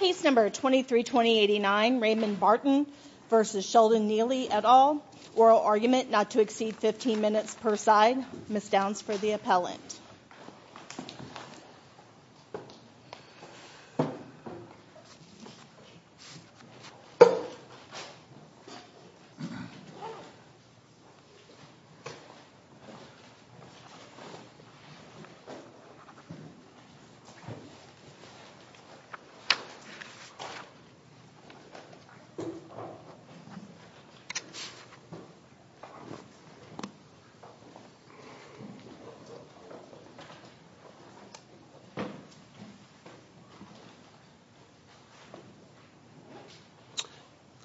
Case No. 23-2089 Raymond Barton v. Sheldon Neeley et al. Oral argument not to exceed 15 minutes per side. Ms. Downs for the appellant.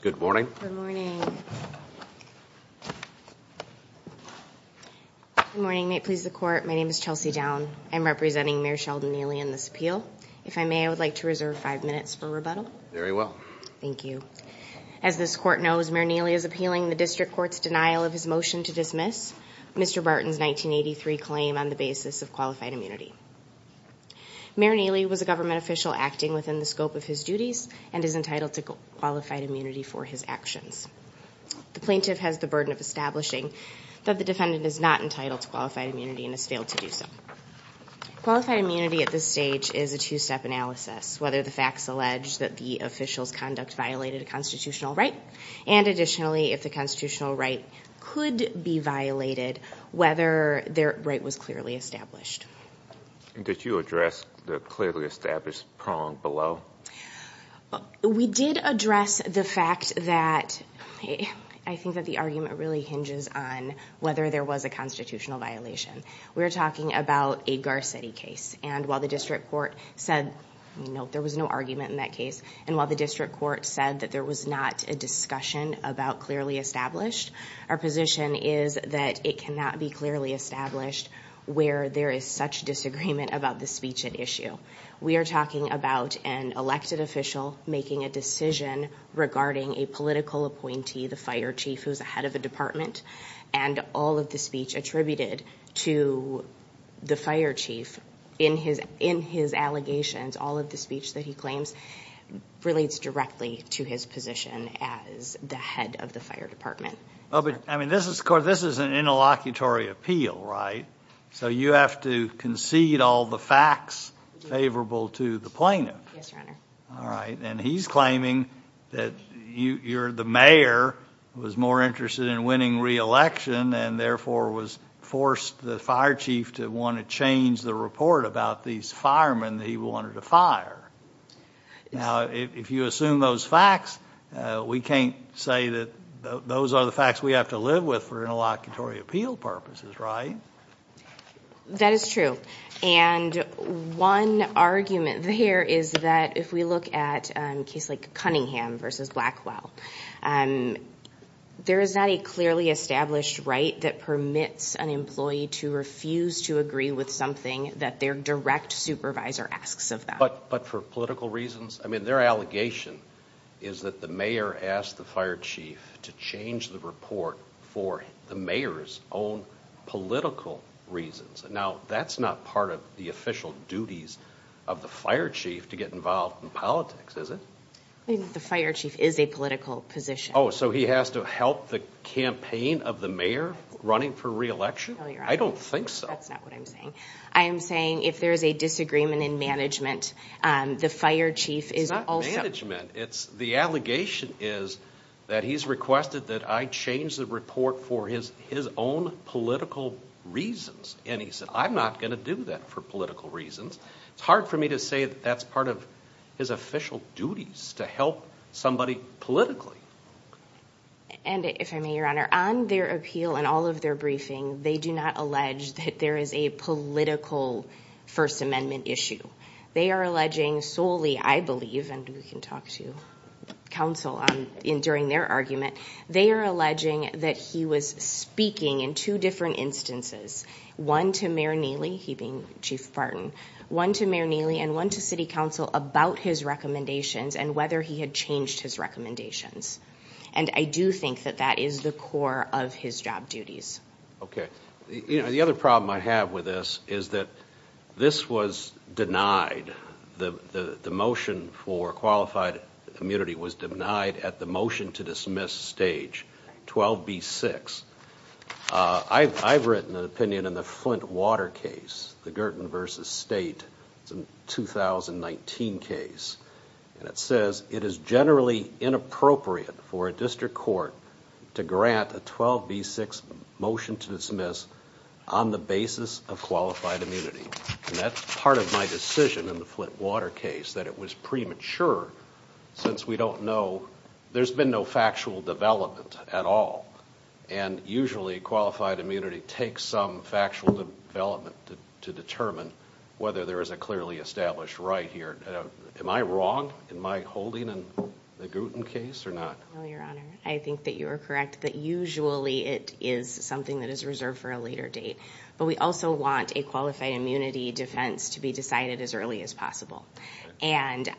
Good morning. Good morning. Good morning. May it please the court, my name is Chelsea Downs. I am representing Mayor Sheldon Neeley in this appeal. If I may, I would like to reserve five minutes for rebuttal. Very well. Thank you. As this court knows, Mayor Neeley is appealing the district court's denial of his motion to dismiss Mr. Barton's 1983 claim on the basis of qualified immunity. Mayor Neeley was a government official acting within the scope of his duties and is entitled to qualified immunity for his actions. The plaintiff has the burden of establishing that the defendant is not entitled to qualified immunity and has failed to do so. Qualified immunity at this stage is a two-step analysis, whether the facts allege that the official's conduct violated a constitutional right, and additionally, if the constitutional right could be violated, whether their right was clearly established. Did you address the clearly established prong below? We did address the fact that I think that the argument really hinges on whether there was a constitutional violation. We were talking about a Garcetti case, and while the district court said, you know, there was no argument in that case, and while the district court said that there was not a discussion about clearly established, our position is that it cannot be clearly established where there is such disagreement about the speech at issue. We are talking about an elected official making a decision regarding a political appointee, the fire chief, who's the head of the department, and all of the speech attributed to the fire chief in his allegations, all of the speech that he claims relates directly to his position as the head of the fire department. I mean, this is an interlocutory appeal, right? So you have to concede all the facts favorable to the plaintiff. All right, and he's claiming that the mayor was more interested in winning re-election and therefore was forced the fire chief to want to change the report about these firemen that he wanted to fire. Now, if you assume those facts, we can't say that those are the facts we have to live with for interlocutory appeal purposes, right? That is true, and one argument there is that if we look at a case like Cunningham v. Blackwell, there is not a clearly established right that permits an employee to refuse to agree with something that their direct supervisor asks of them. But for political reasons? I mean, their allegation is that the mayor asked the fire chief to change the report for the mayor's own political reasons. Now, that's not part of the official duties of the fire chief to get involved in politics, is it? The fire chief is a political position. Oh, so he has to help the campaign of the mayor running for re-election? No, Your Honor. I don't think so. That's not what I'm saying. I am saying if there is a disagreement in management, the fire chief is also... The allegation is that he's requested that I change the report for his own political reasons. And he said, I'm not going to do that for political reasons. It's hard for me to say that that's part of his official duties, to help somebody politically. And if I may, Your Honor, on their appeal and all of their briefing, they do not allege that there is a political First Amendment issue. They are alleging solely, I believe, and we can talk to counsel during their argument, they are alleging that he was speaking in two different instances. One to Mayor Neely, he being Chief Barton. One to Mayor Neely and one to City Council about his recommendations and whether he had changed his recommendations. And I do think that that is the core of his job duties. Okay. The other problem I have with this is that this was denied. The motion for qualified immunity was denied at the motion to dismiss stage 12B6. I've written an opinion in the Flint Water case, the Girton v. State 2019 case. And it says, it is generally inappropriate for a district court to grant a 12B6 motion to dismiss on the basis of qualified immunity. And that's part of my decision in the Flint Water case, that it was premature since we don't know. There's been no factual development at all. And usually qualified immunity takes some factual development to determine whether there is a clearly established right here. Am I wrong in my holding in the Girton case or not? No, Your Honor. I think that you are correct that usually it is something that is reserved for a later date. But we also want a qualified immunity defense to be decided as early as possible. And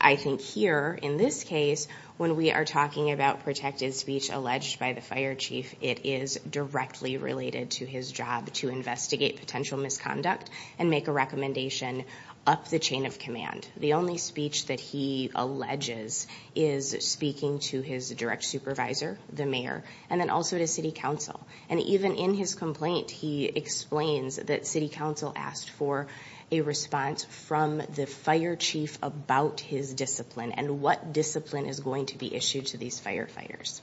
I think here, in this case, when we are talking about protected speech alleged by the fire chief, it is directly related to his job to investigate potential misconduct and make a recommendation up the chain of command. The only speech that he alleges is speaking to his direct supervisor, the mayor, and then also to city council. And even in his complaint, he explains that city council asked for a response from the fire chief about his discipline and what discipline is going to be issued to these firefighters.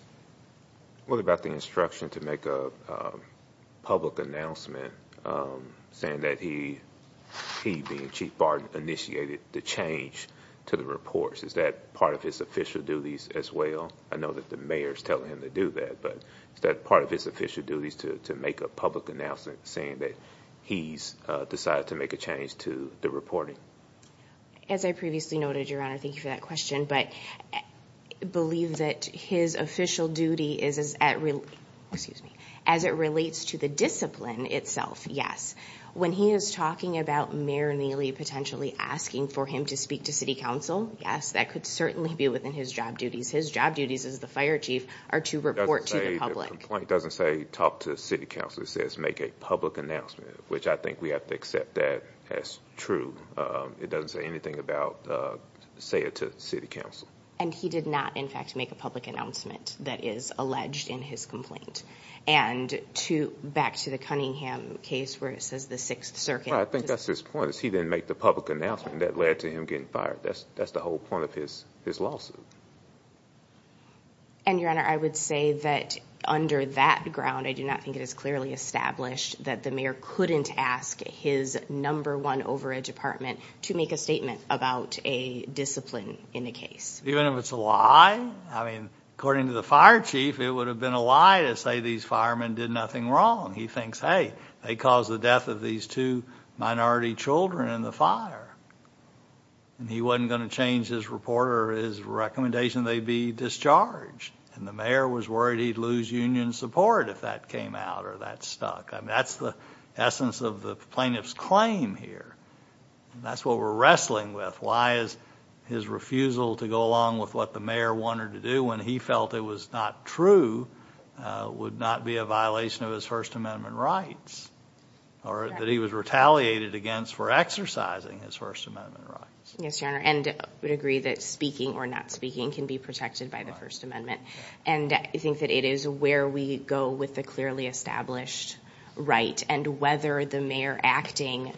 What about the instruction to make a public announcement saying that he, being Chief Barden, initiated the change to the reports? Is that part of his official duties as well? I know that the mayor is telling him to do that. But is that part of his official duties to make a public announcement saying that he has decided to make a change to the reporting? As I previously noted, Your Honor, thank you for that question. But I believe that his official duty is as it relates to the discipline itself, yes. When he is talking about Mayor Neely potentially asking for him to speak to city council, yes, that could certainly be within his job duties. His job duties as the fire chief are to report to the public. The complaint doesn't say talk to city council. It says make a public announcement, which I think we have to accept that as true. It doesn't say anything about say it to city council. And he did not, in fact, make a public announcement that is alleged in his complaint. And back to the Cunningham case where it says the Sixth Circuit. I think that's his point. He didn't make the public announcement that led to him getting fired. That's the whole point of his lawsuit. And, Your Honor, I would say that under that ground, I do not think it is clearly established that the mayor couldn't ask his number one overage department to make a statement about a discipline in the case. Even if it's a lie? I mean, according to the fire chief, it would have been a lie to say these firemen did nothing wrong. He thinks, hey, they caused the death of these two minority children in the fire. And he wasn't going to change his report or his recommendation they be discharged. And the mayor was worried he'd lose union support if that came out or that stuck. I mean, that's the essence of the plaintiff's claim here. And that's what we're wrestling with. Why is his refusal to go along with what the mayor wanted to do when he felt it was not true would not be a violation of his First Amendment rights or that he was retaliated against for exercising his First Amendment rights. Yes, Your Honor, and I would agree that speaking or not speaking can be protected by the First Amendment. And I think that it is where we go with the clearly established right and whether the mayor acting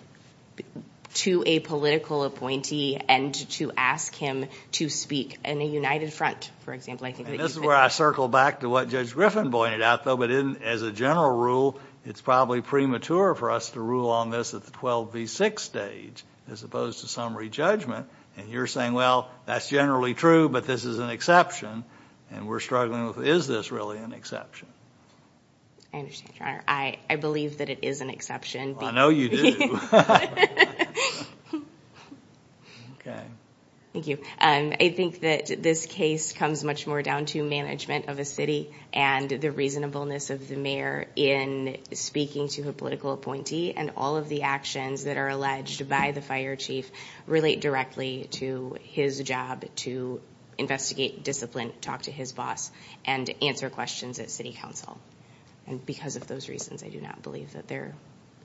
to a political appointee and to ask him to speak in a united front, for example. And this is where I circle back to what Judge Griffin pointed out, though, that as a general rule, it's probably premature for us to rule on this at the 12 v. 6 stage as opposed to summary judgment. And you're saying, well, that's generally true, but this is an exception. And we're struggling with, is this really an exception? I understand, Your Honor. I believe that it is an exception. I know you do. Thank you. I think that this case comes much more down to management of a city and the reasonableness of the mayor in speaking to a political appointee and all of the actions that are alleged by the fire chief relate directly to his job to investigate, discipline, talk to his boss, and answer questions at city council. And because of those reasons, I do not believe that there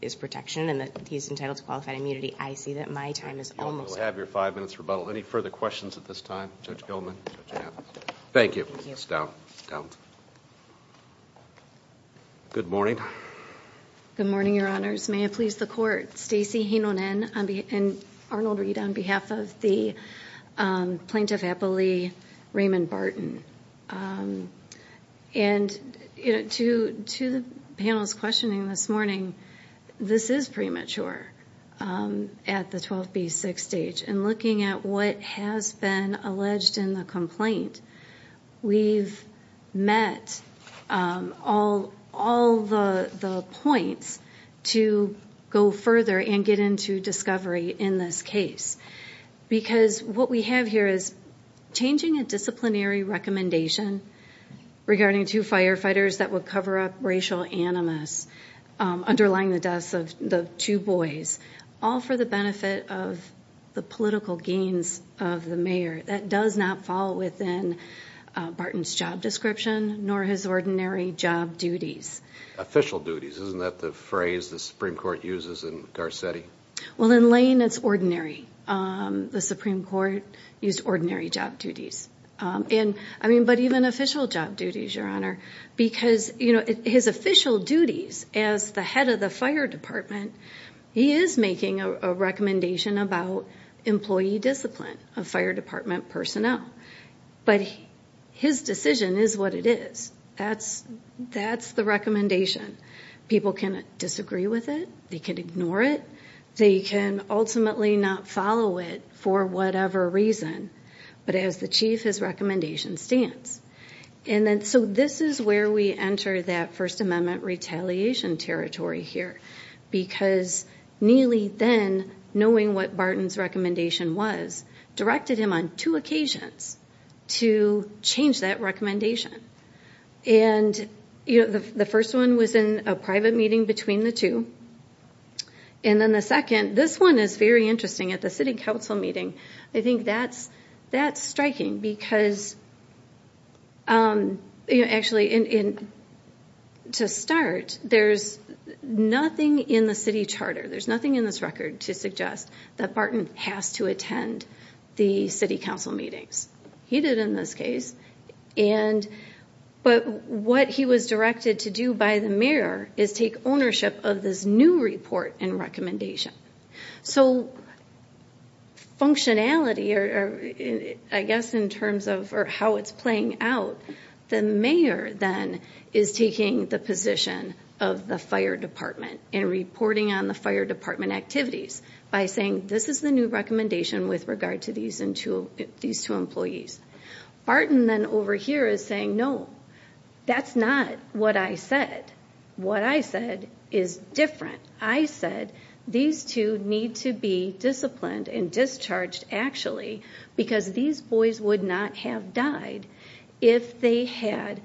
is protection and that he's entitled to qualified immunity. I see that my time is almost up. We'll have your five minutes rebuttal. Any further questions at this time, Judge Gilman? Thank you. It's down, down. Good morning. Good morning, Your Honors. May it please the Court. Stacey Heinonen and Arnold Reid on behalf of the Plaintiff Appellee Raymond Barton. And to the panel's questioning this morning, this is premature at the 12 v. 6 stage. In looking at what has been alleged in the complaint, we've met all the points to go further and get into discovery in this case. Because what we have here is changing a disciplinary recommendation regarding two firefighters that would cover up racial animus underlying the deaths of the two boys, all for the benefit of the political gains of the mayor. That does not fall within Barton's job description, nor his ordinary job duties. Official duties. Isn't that the phrase the Supreme Court uses in Garcetti? Well, in Lane, it's ordinary. The Supreme Court used ordinary job duties. But even official job duties, Your Honor, because his official duties as the head of the fire department, he is making a recommendation about employee discipline of fire department personnel. But his decision is what it is. That's the recommendation. People can disagree with it. They can ignore it. They can ultimately not follow it for whatever reason. But as the chief, his recommendation stands. So this is where we enter that First Amendment retaliation territory here. Because Neely then, knowing what Barton's recommendation was, directed him on two occasions to change that recommendation. And the first one was in a private meeting between the two. And then the second, this one is very interesting, at the city council meeting. I think that's striking because, actually, to start, there's nothing in the city charter, there's nothing in this record to suggest that Barton has to attend the city council meetings. He did in this case. But what he was directed to do by the mayor is take ownership of this new report and recommendation. So functionality, I guess in terms of how it's playing out, the mayor then is taking the position of the fire department and reporting on the fire department activities by saying, this is the new recommendation with regard to these two employees. Barton then over here is saying, no, that's not what I said. What I said is different. I said these two need to be disciplined and discharged, actually, because these boys would not have died if they had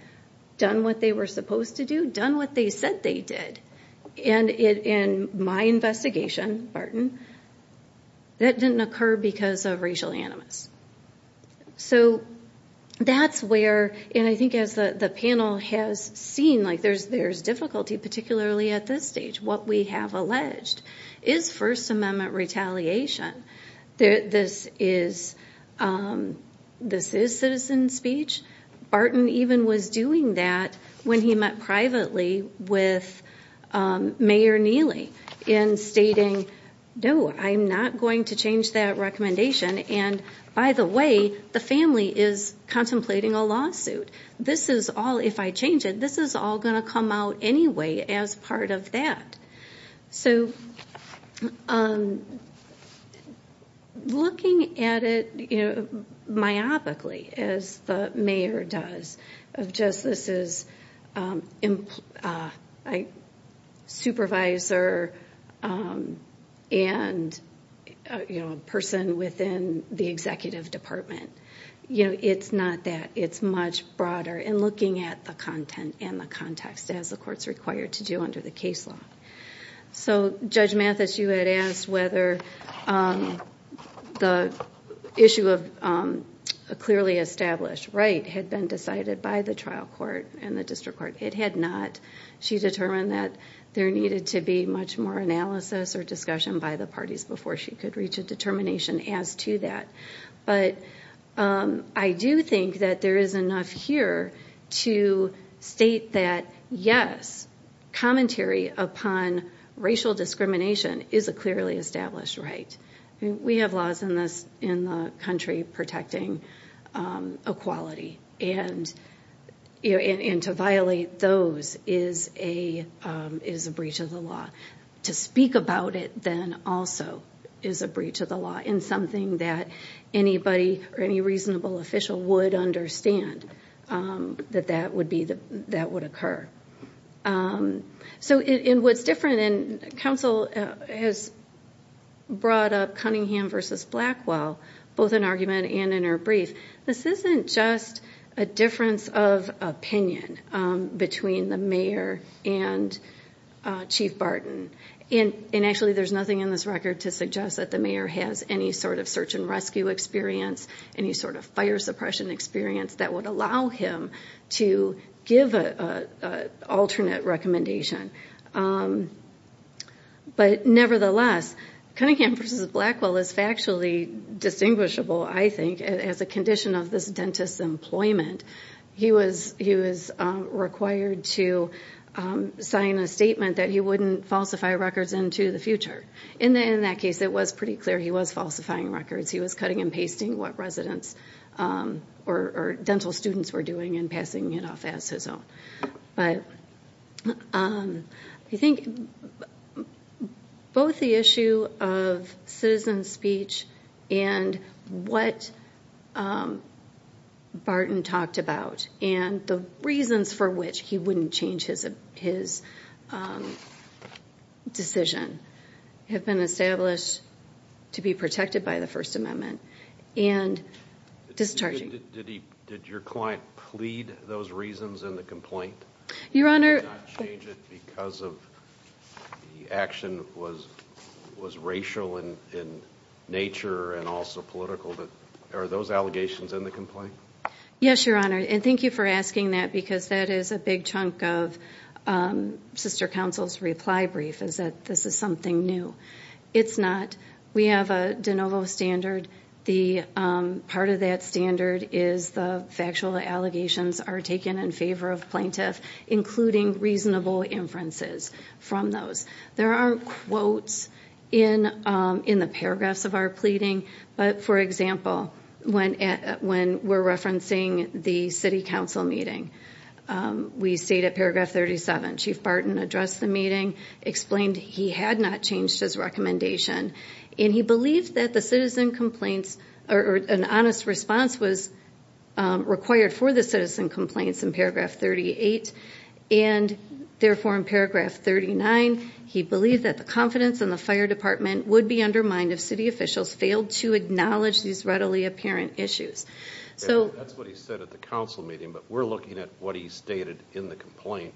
done what they were supposed to do, done what they said they did. And in my investigation, Barton, that didn't occur because of racial animus. So that's where, and I think as the panel has seen, there's difficulty, particularly at this stage. What we have alleged is First Amendment retaliation. This is citizen speech. Barton even was doing that when he met privately with Mayor Neely in stating, no, I'm not going to change that recommendation, and by the way, the family is contemplating a lawsuit. This is all, if I change it, this is all going to come out anyway as part of that. So looking at it myopically, as the mayor does, of just this is supervisor and person within the executive department. It's not that. It's much broader in looking at the content and the context, as the court's required to do under the case law. So Judge Mathis, you had asked whether the issue of a clearly established right had been decided by the trial court and the district court. It had not. She determined that there needed to be much more analysis or discussion by the parties before she could reach a determination as to that. But I do think that there is enough here to state that, yes, commentary upon racial discrimination is a clearly established right. We have laws in the country protecting equality, and to violate those is a breach of the law. To speak about it then also is a breach of the law, and something that anybody or any reasonable official would understand, that that would occur. So what's different, and counsel has brought up Cunningham v. Blackwell, both in argument and in her brief, this isn't just a difference of opinion between the mayor and Chief Barton. And actually there's nothing in this record to suggest that the mayor has any sort of search and rescue experience, any sort of fire suppression experience, that would allow him to give an alternate recommendation. But nevertheless, Cunningham v. Blackwell is factually distinguishable, I think, as a condition of this dentist's employment. He was required to sign a statement that he wouldn't falsify records into the future. In that case, it was pretty clear he was falsifying records. He was cutting and pasting what residents or dental students were doing and passing it off as his own. I think both the issue of citizen speech and what Barton talked about, and the reasons for which he wouldn't change his decision, have been established to be protected by the First Amendment and discharging. Did your client plead those reasons in the complaint? Your Honor. Did he not change it because the action was racial in nature and also political? Are those allegations in the complaint? Yes, Your Honor. And thank you for asking that because that is a big chunk of Sister Council's reply brief, is that this is something new. It's not. We have a de novo standard. Part of that standard is the factual allegations are taken in favor of plaintiffs, including reasonable inferences from those. There aren't quotes in the paragraphs of our pleading, but, for example, when we're referencing the city council meeting, we state at paragraph 37, Chief Barton addressed the meeting, explained he had not changed his recommendation, and he believed that an honest response was required for the citizen complaints in paragraph 38, and, therefore, in paragraph 39, he believed that the confidence in the fire department would be undermined if city officials failed to acknowledge these readily apparent issues. That's what he said at the council meeting, but we're looking at what he stated in the complaint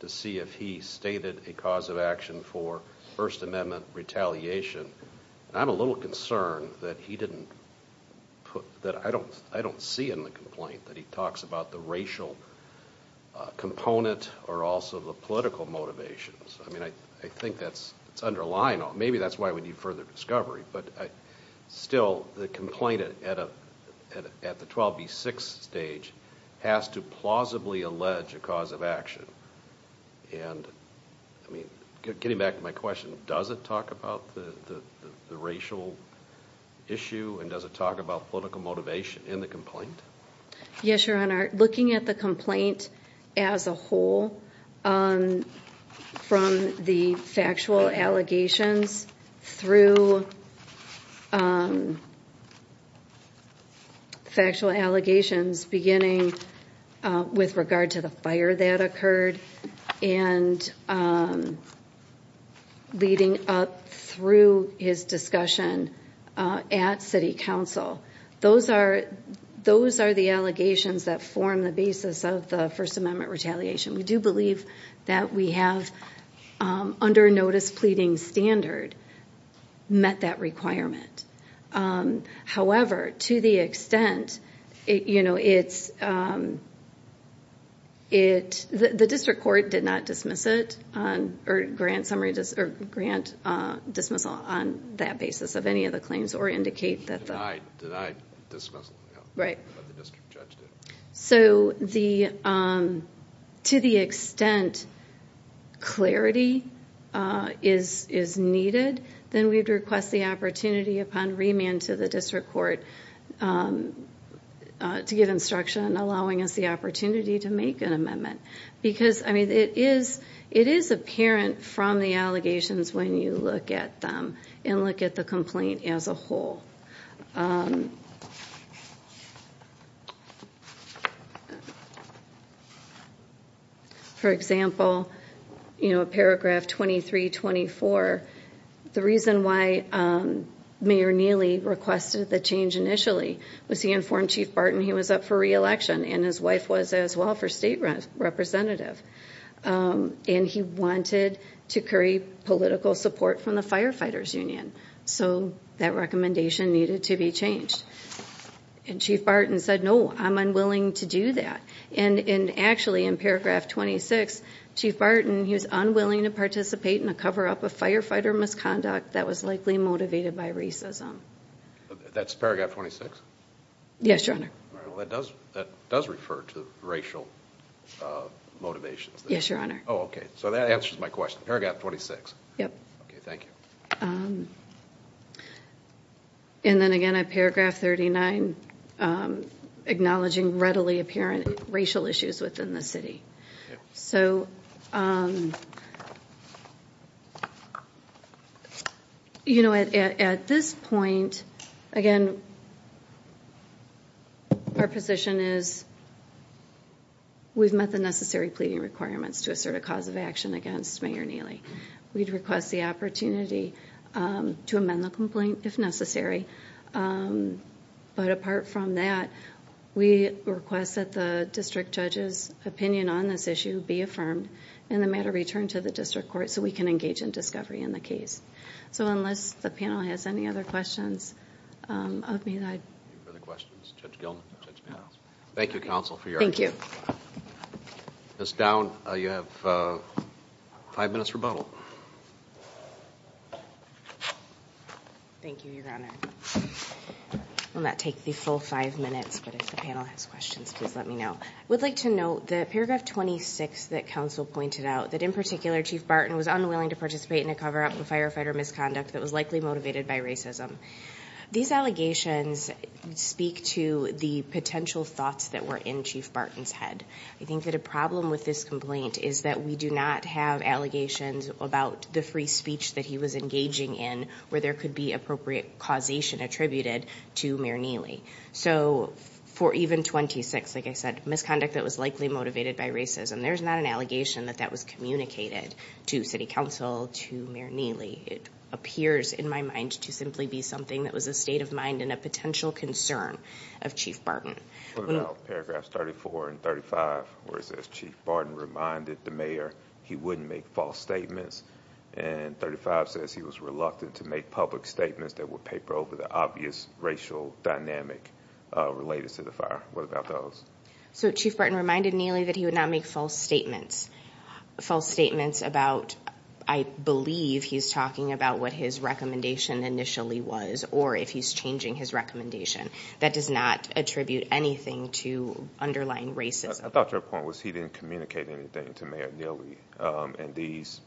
to see if he stated a cause of action for First Amendment retaliation. I'm a little concerned that I don't see in the complaint that he talks about the racial component or also the political motivations. I mean, I think that's underlying. Maybe that's why we need further discovery, but, still, the complaint at the 12B6 stage has to plausibly allege a cause of action. I mean, getting back to my question, does it talk about the racial issue, and does it talk about political motivation in the complaint? Yes, Your Honor. Looking at the complaint as a whole from the factual allegations through factual allegations beginning with regard to the fire that occurred and leading up through his discussion at city council, those are the allegations that form the basis of the First Amendment retaliation. We do believe that we have, under a notice pleading standard, met that requirement. However, to the extent, the district court did not dismiss it or grant dismissal on that basis of any of the claims or indicate that the- Denied dismissal. Right. But the district judge did. So, to the extent clarity is needed, then we'd request the opportunity upon remand to the district court to give instruction and allowing us the opportunity to make an amendment. Because, I mean, it is apparent from the allegations when you look at them and look at the complaint as a whole. For example, you know, paragraph 23-24, the reason why Mayor Neely requested the change initially was he informed Chief Barton he was up for re-election and his wife was as well for state representative. And he wanted to curry political support from the firefighters union. So, that recommendation needed to be changed. And Chief Barton said, no, I'm unwilling to do that. And actually, in paragraph 26, Chief Barton, he was unwilling to participate in a cover-up of firefighter misconduct that was likely motivated by racism. That's paragraph 26? Yes, Your Honor. All right. Well, that does refer to racial motivations. Yes, Your Honor. Oh, okay. So, that answers my question. Paragraph 26. Yep. Okay, thank you. And then again, at paragraph 39, acknowledging readily apparent racial issues within the city. So, you know, at this point, again, our position is we've met the necessary pleading requirements to assert a cause of action against Mayor Neely. We'd request the opportunity to amend the complaint if necessary. But apart from that, we request that the district judge's opinion on this issue be affirmed and the matter returned to the district court so we can engage in discovery in the case. So, unless the panel has any other questions of me, I... Any further questions? Judge Gilman? No. Thank you, counsel, for your... Thank you. Ms. Down, you have five minutes rebuttal. Thank you, Your Honor. I will not take the full five minutes, but if the panel has questions, please let me know. I would like to note that paragraph 26 that counsel pointed out, that in particular, Chief Barton was unwilling to participate in a cover-up of firefighter misconduct that was likely motivated by racism. These allegations speak to the potential thoughts that were in Chief Barton's head. I think that a problem with this complaint is that we do not have allegations about the free speech that he was engaging in where there could be appropriate causation attributed to Mayor Neely. So, for even 26, like I said, misconduct that was likely motivated by racism, there's not an allegation that that was communicated to city council, to Mayor Neely. It appears in my mind to simply be something that was a state of mind and a potential concern of Chief Barton. What about paragraphs 34 and 35 where it says Chief Barton reminded the mayor he wouldn't make false statements and 35 says he was reluctant to make public statements that would paper over the obvious racial dynamic related to the fire? What about those? So, Chief Barton reminded Neely that he would not make false statements. False statements about, I believe, he's talking about what his recommendation initially was or if he's changing his recommendation. That does not attribute anything to underlying racism. I thought your point was he didn't communicate anything to Mayor Neely and these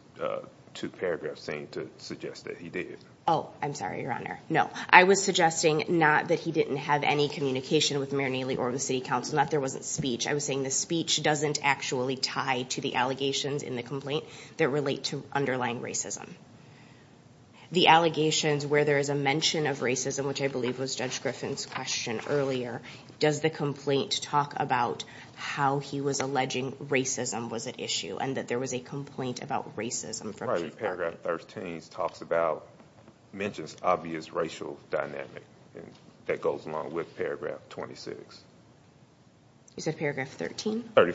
two paragraphs seem to suggest that he did. Oh, I'm sorry, Your Honor. No. I was suggesting not that he didn't have any communication with Mayor Neely or the city council, not that there wasn't speech. I was saying the speech doesn't actually tie to the allegations in the complaint that relate to underlying racism. The allegations where there is a mention of racism, which I believe was Judge Griffin's question earlier, does the complaint talk about how he was alleging racism was at issue and that there was a complaint about racism from Chief Barton? Paragraph 13 talks about mentions obvious racial dynamic that goes along with paragraph 26. You said paragraph 13? Oh,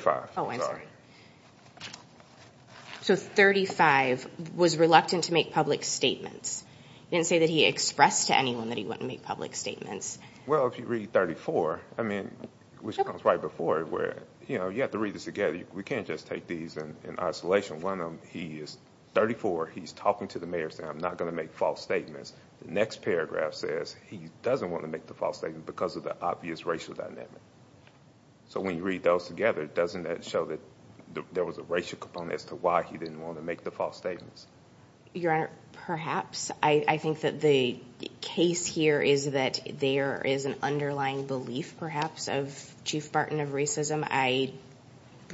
I'm sorry. So, 35 was reluctant to make public statements. You didn't say that he expressed to anyone that he wouldn't make public statements. Well, if you read 34, I mean, which comes right before it where, you know, you have to read this again. We can't just take these in isolation. One of them, he is 34. He's talking to the mayor saying, I'm not going to make false statements. The next paragraph says he doesn't want to make the false statement because of the obvious racial dynamic. So, when you read those together, doesn't that show that there was a racial component as to why he didn't want to make the false statements? Your Honor, perhaps. I think that the case here is that there is an underlying belief, perhaps, of Chief Barton of racism. I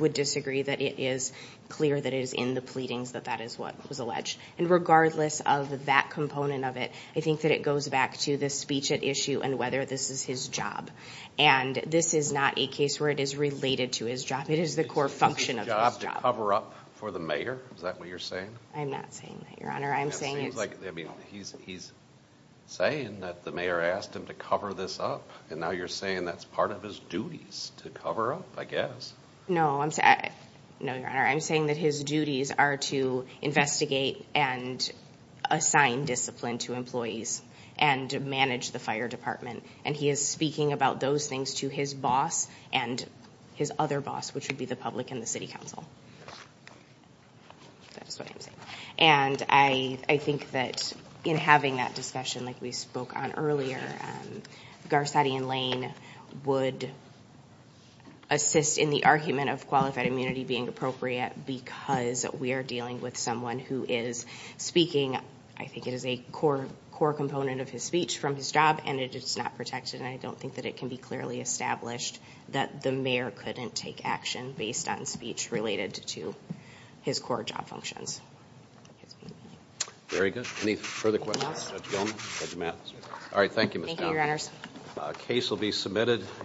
would disagree that it is clear that it is in the pleadings that that is what was alleged. And regardless of that component of it, I think that it goes back to the speech at issue and whether this is his job. And this is not a case where it is related to his job. It is the core function of his job. Is it his job to cover up for the mayor? Is that what you're saying? I'm not saying that, Your Honor. I'm saying it's... It seems like, I mean, he's saying that the mayor asked him to cover this up. And now you're saying that's part of his duties to cover up, I guess. No, Your Honor. I'm saying that his duties are to investigate and assign discipline to employees and manage the fire department. And he is speaking about those things to his boss and his other boss, which would be the public and the city council. That's what I'm saying. And I think that in having that discussion like we spoke on earlier, Garcetti and Lane would assist in the argument of qualified immunity being appropriate because we are dealing with someone who is speaking, I think it is a core component of his speech from his job, and it is not protected. And I don't think that it can be clearly established that the mayor couldn't take action based on speech related to his core job functions. Very good. Any further questions? Judge Gilman? Judge Mathis? All right, thank you, Ms. Thompson. Thank you, Your Honors. The case will be submitted.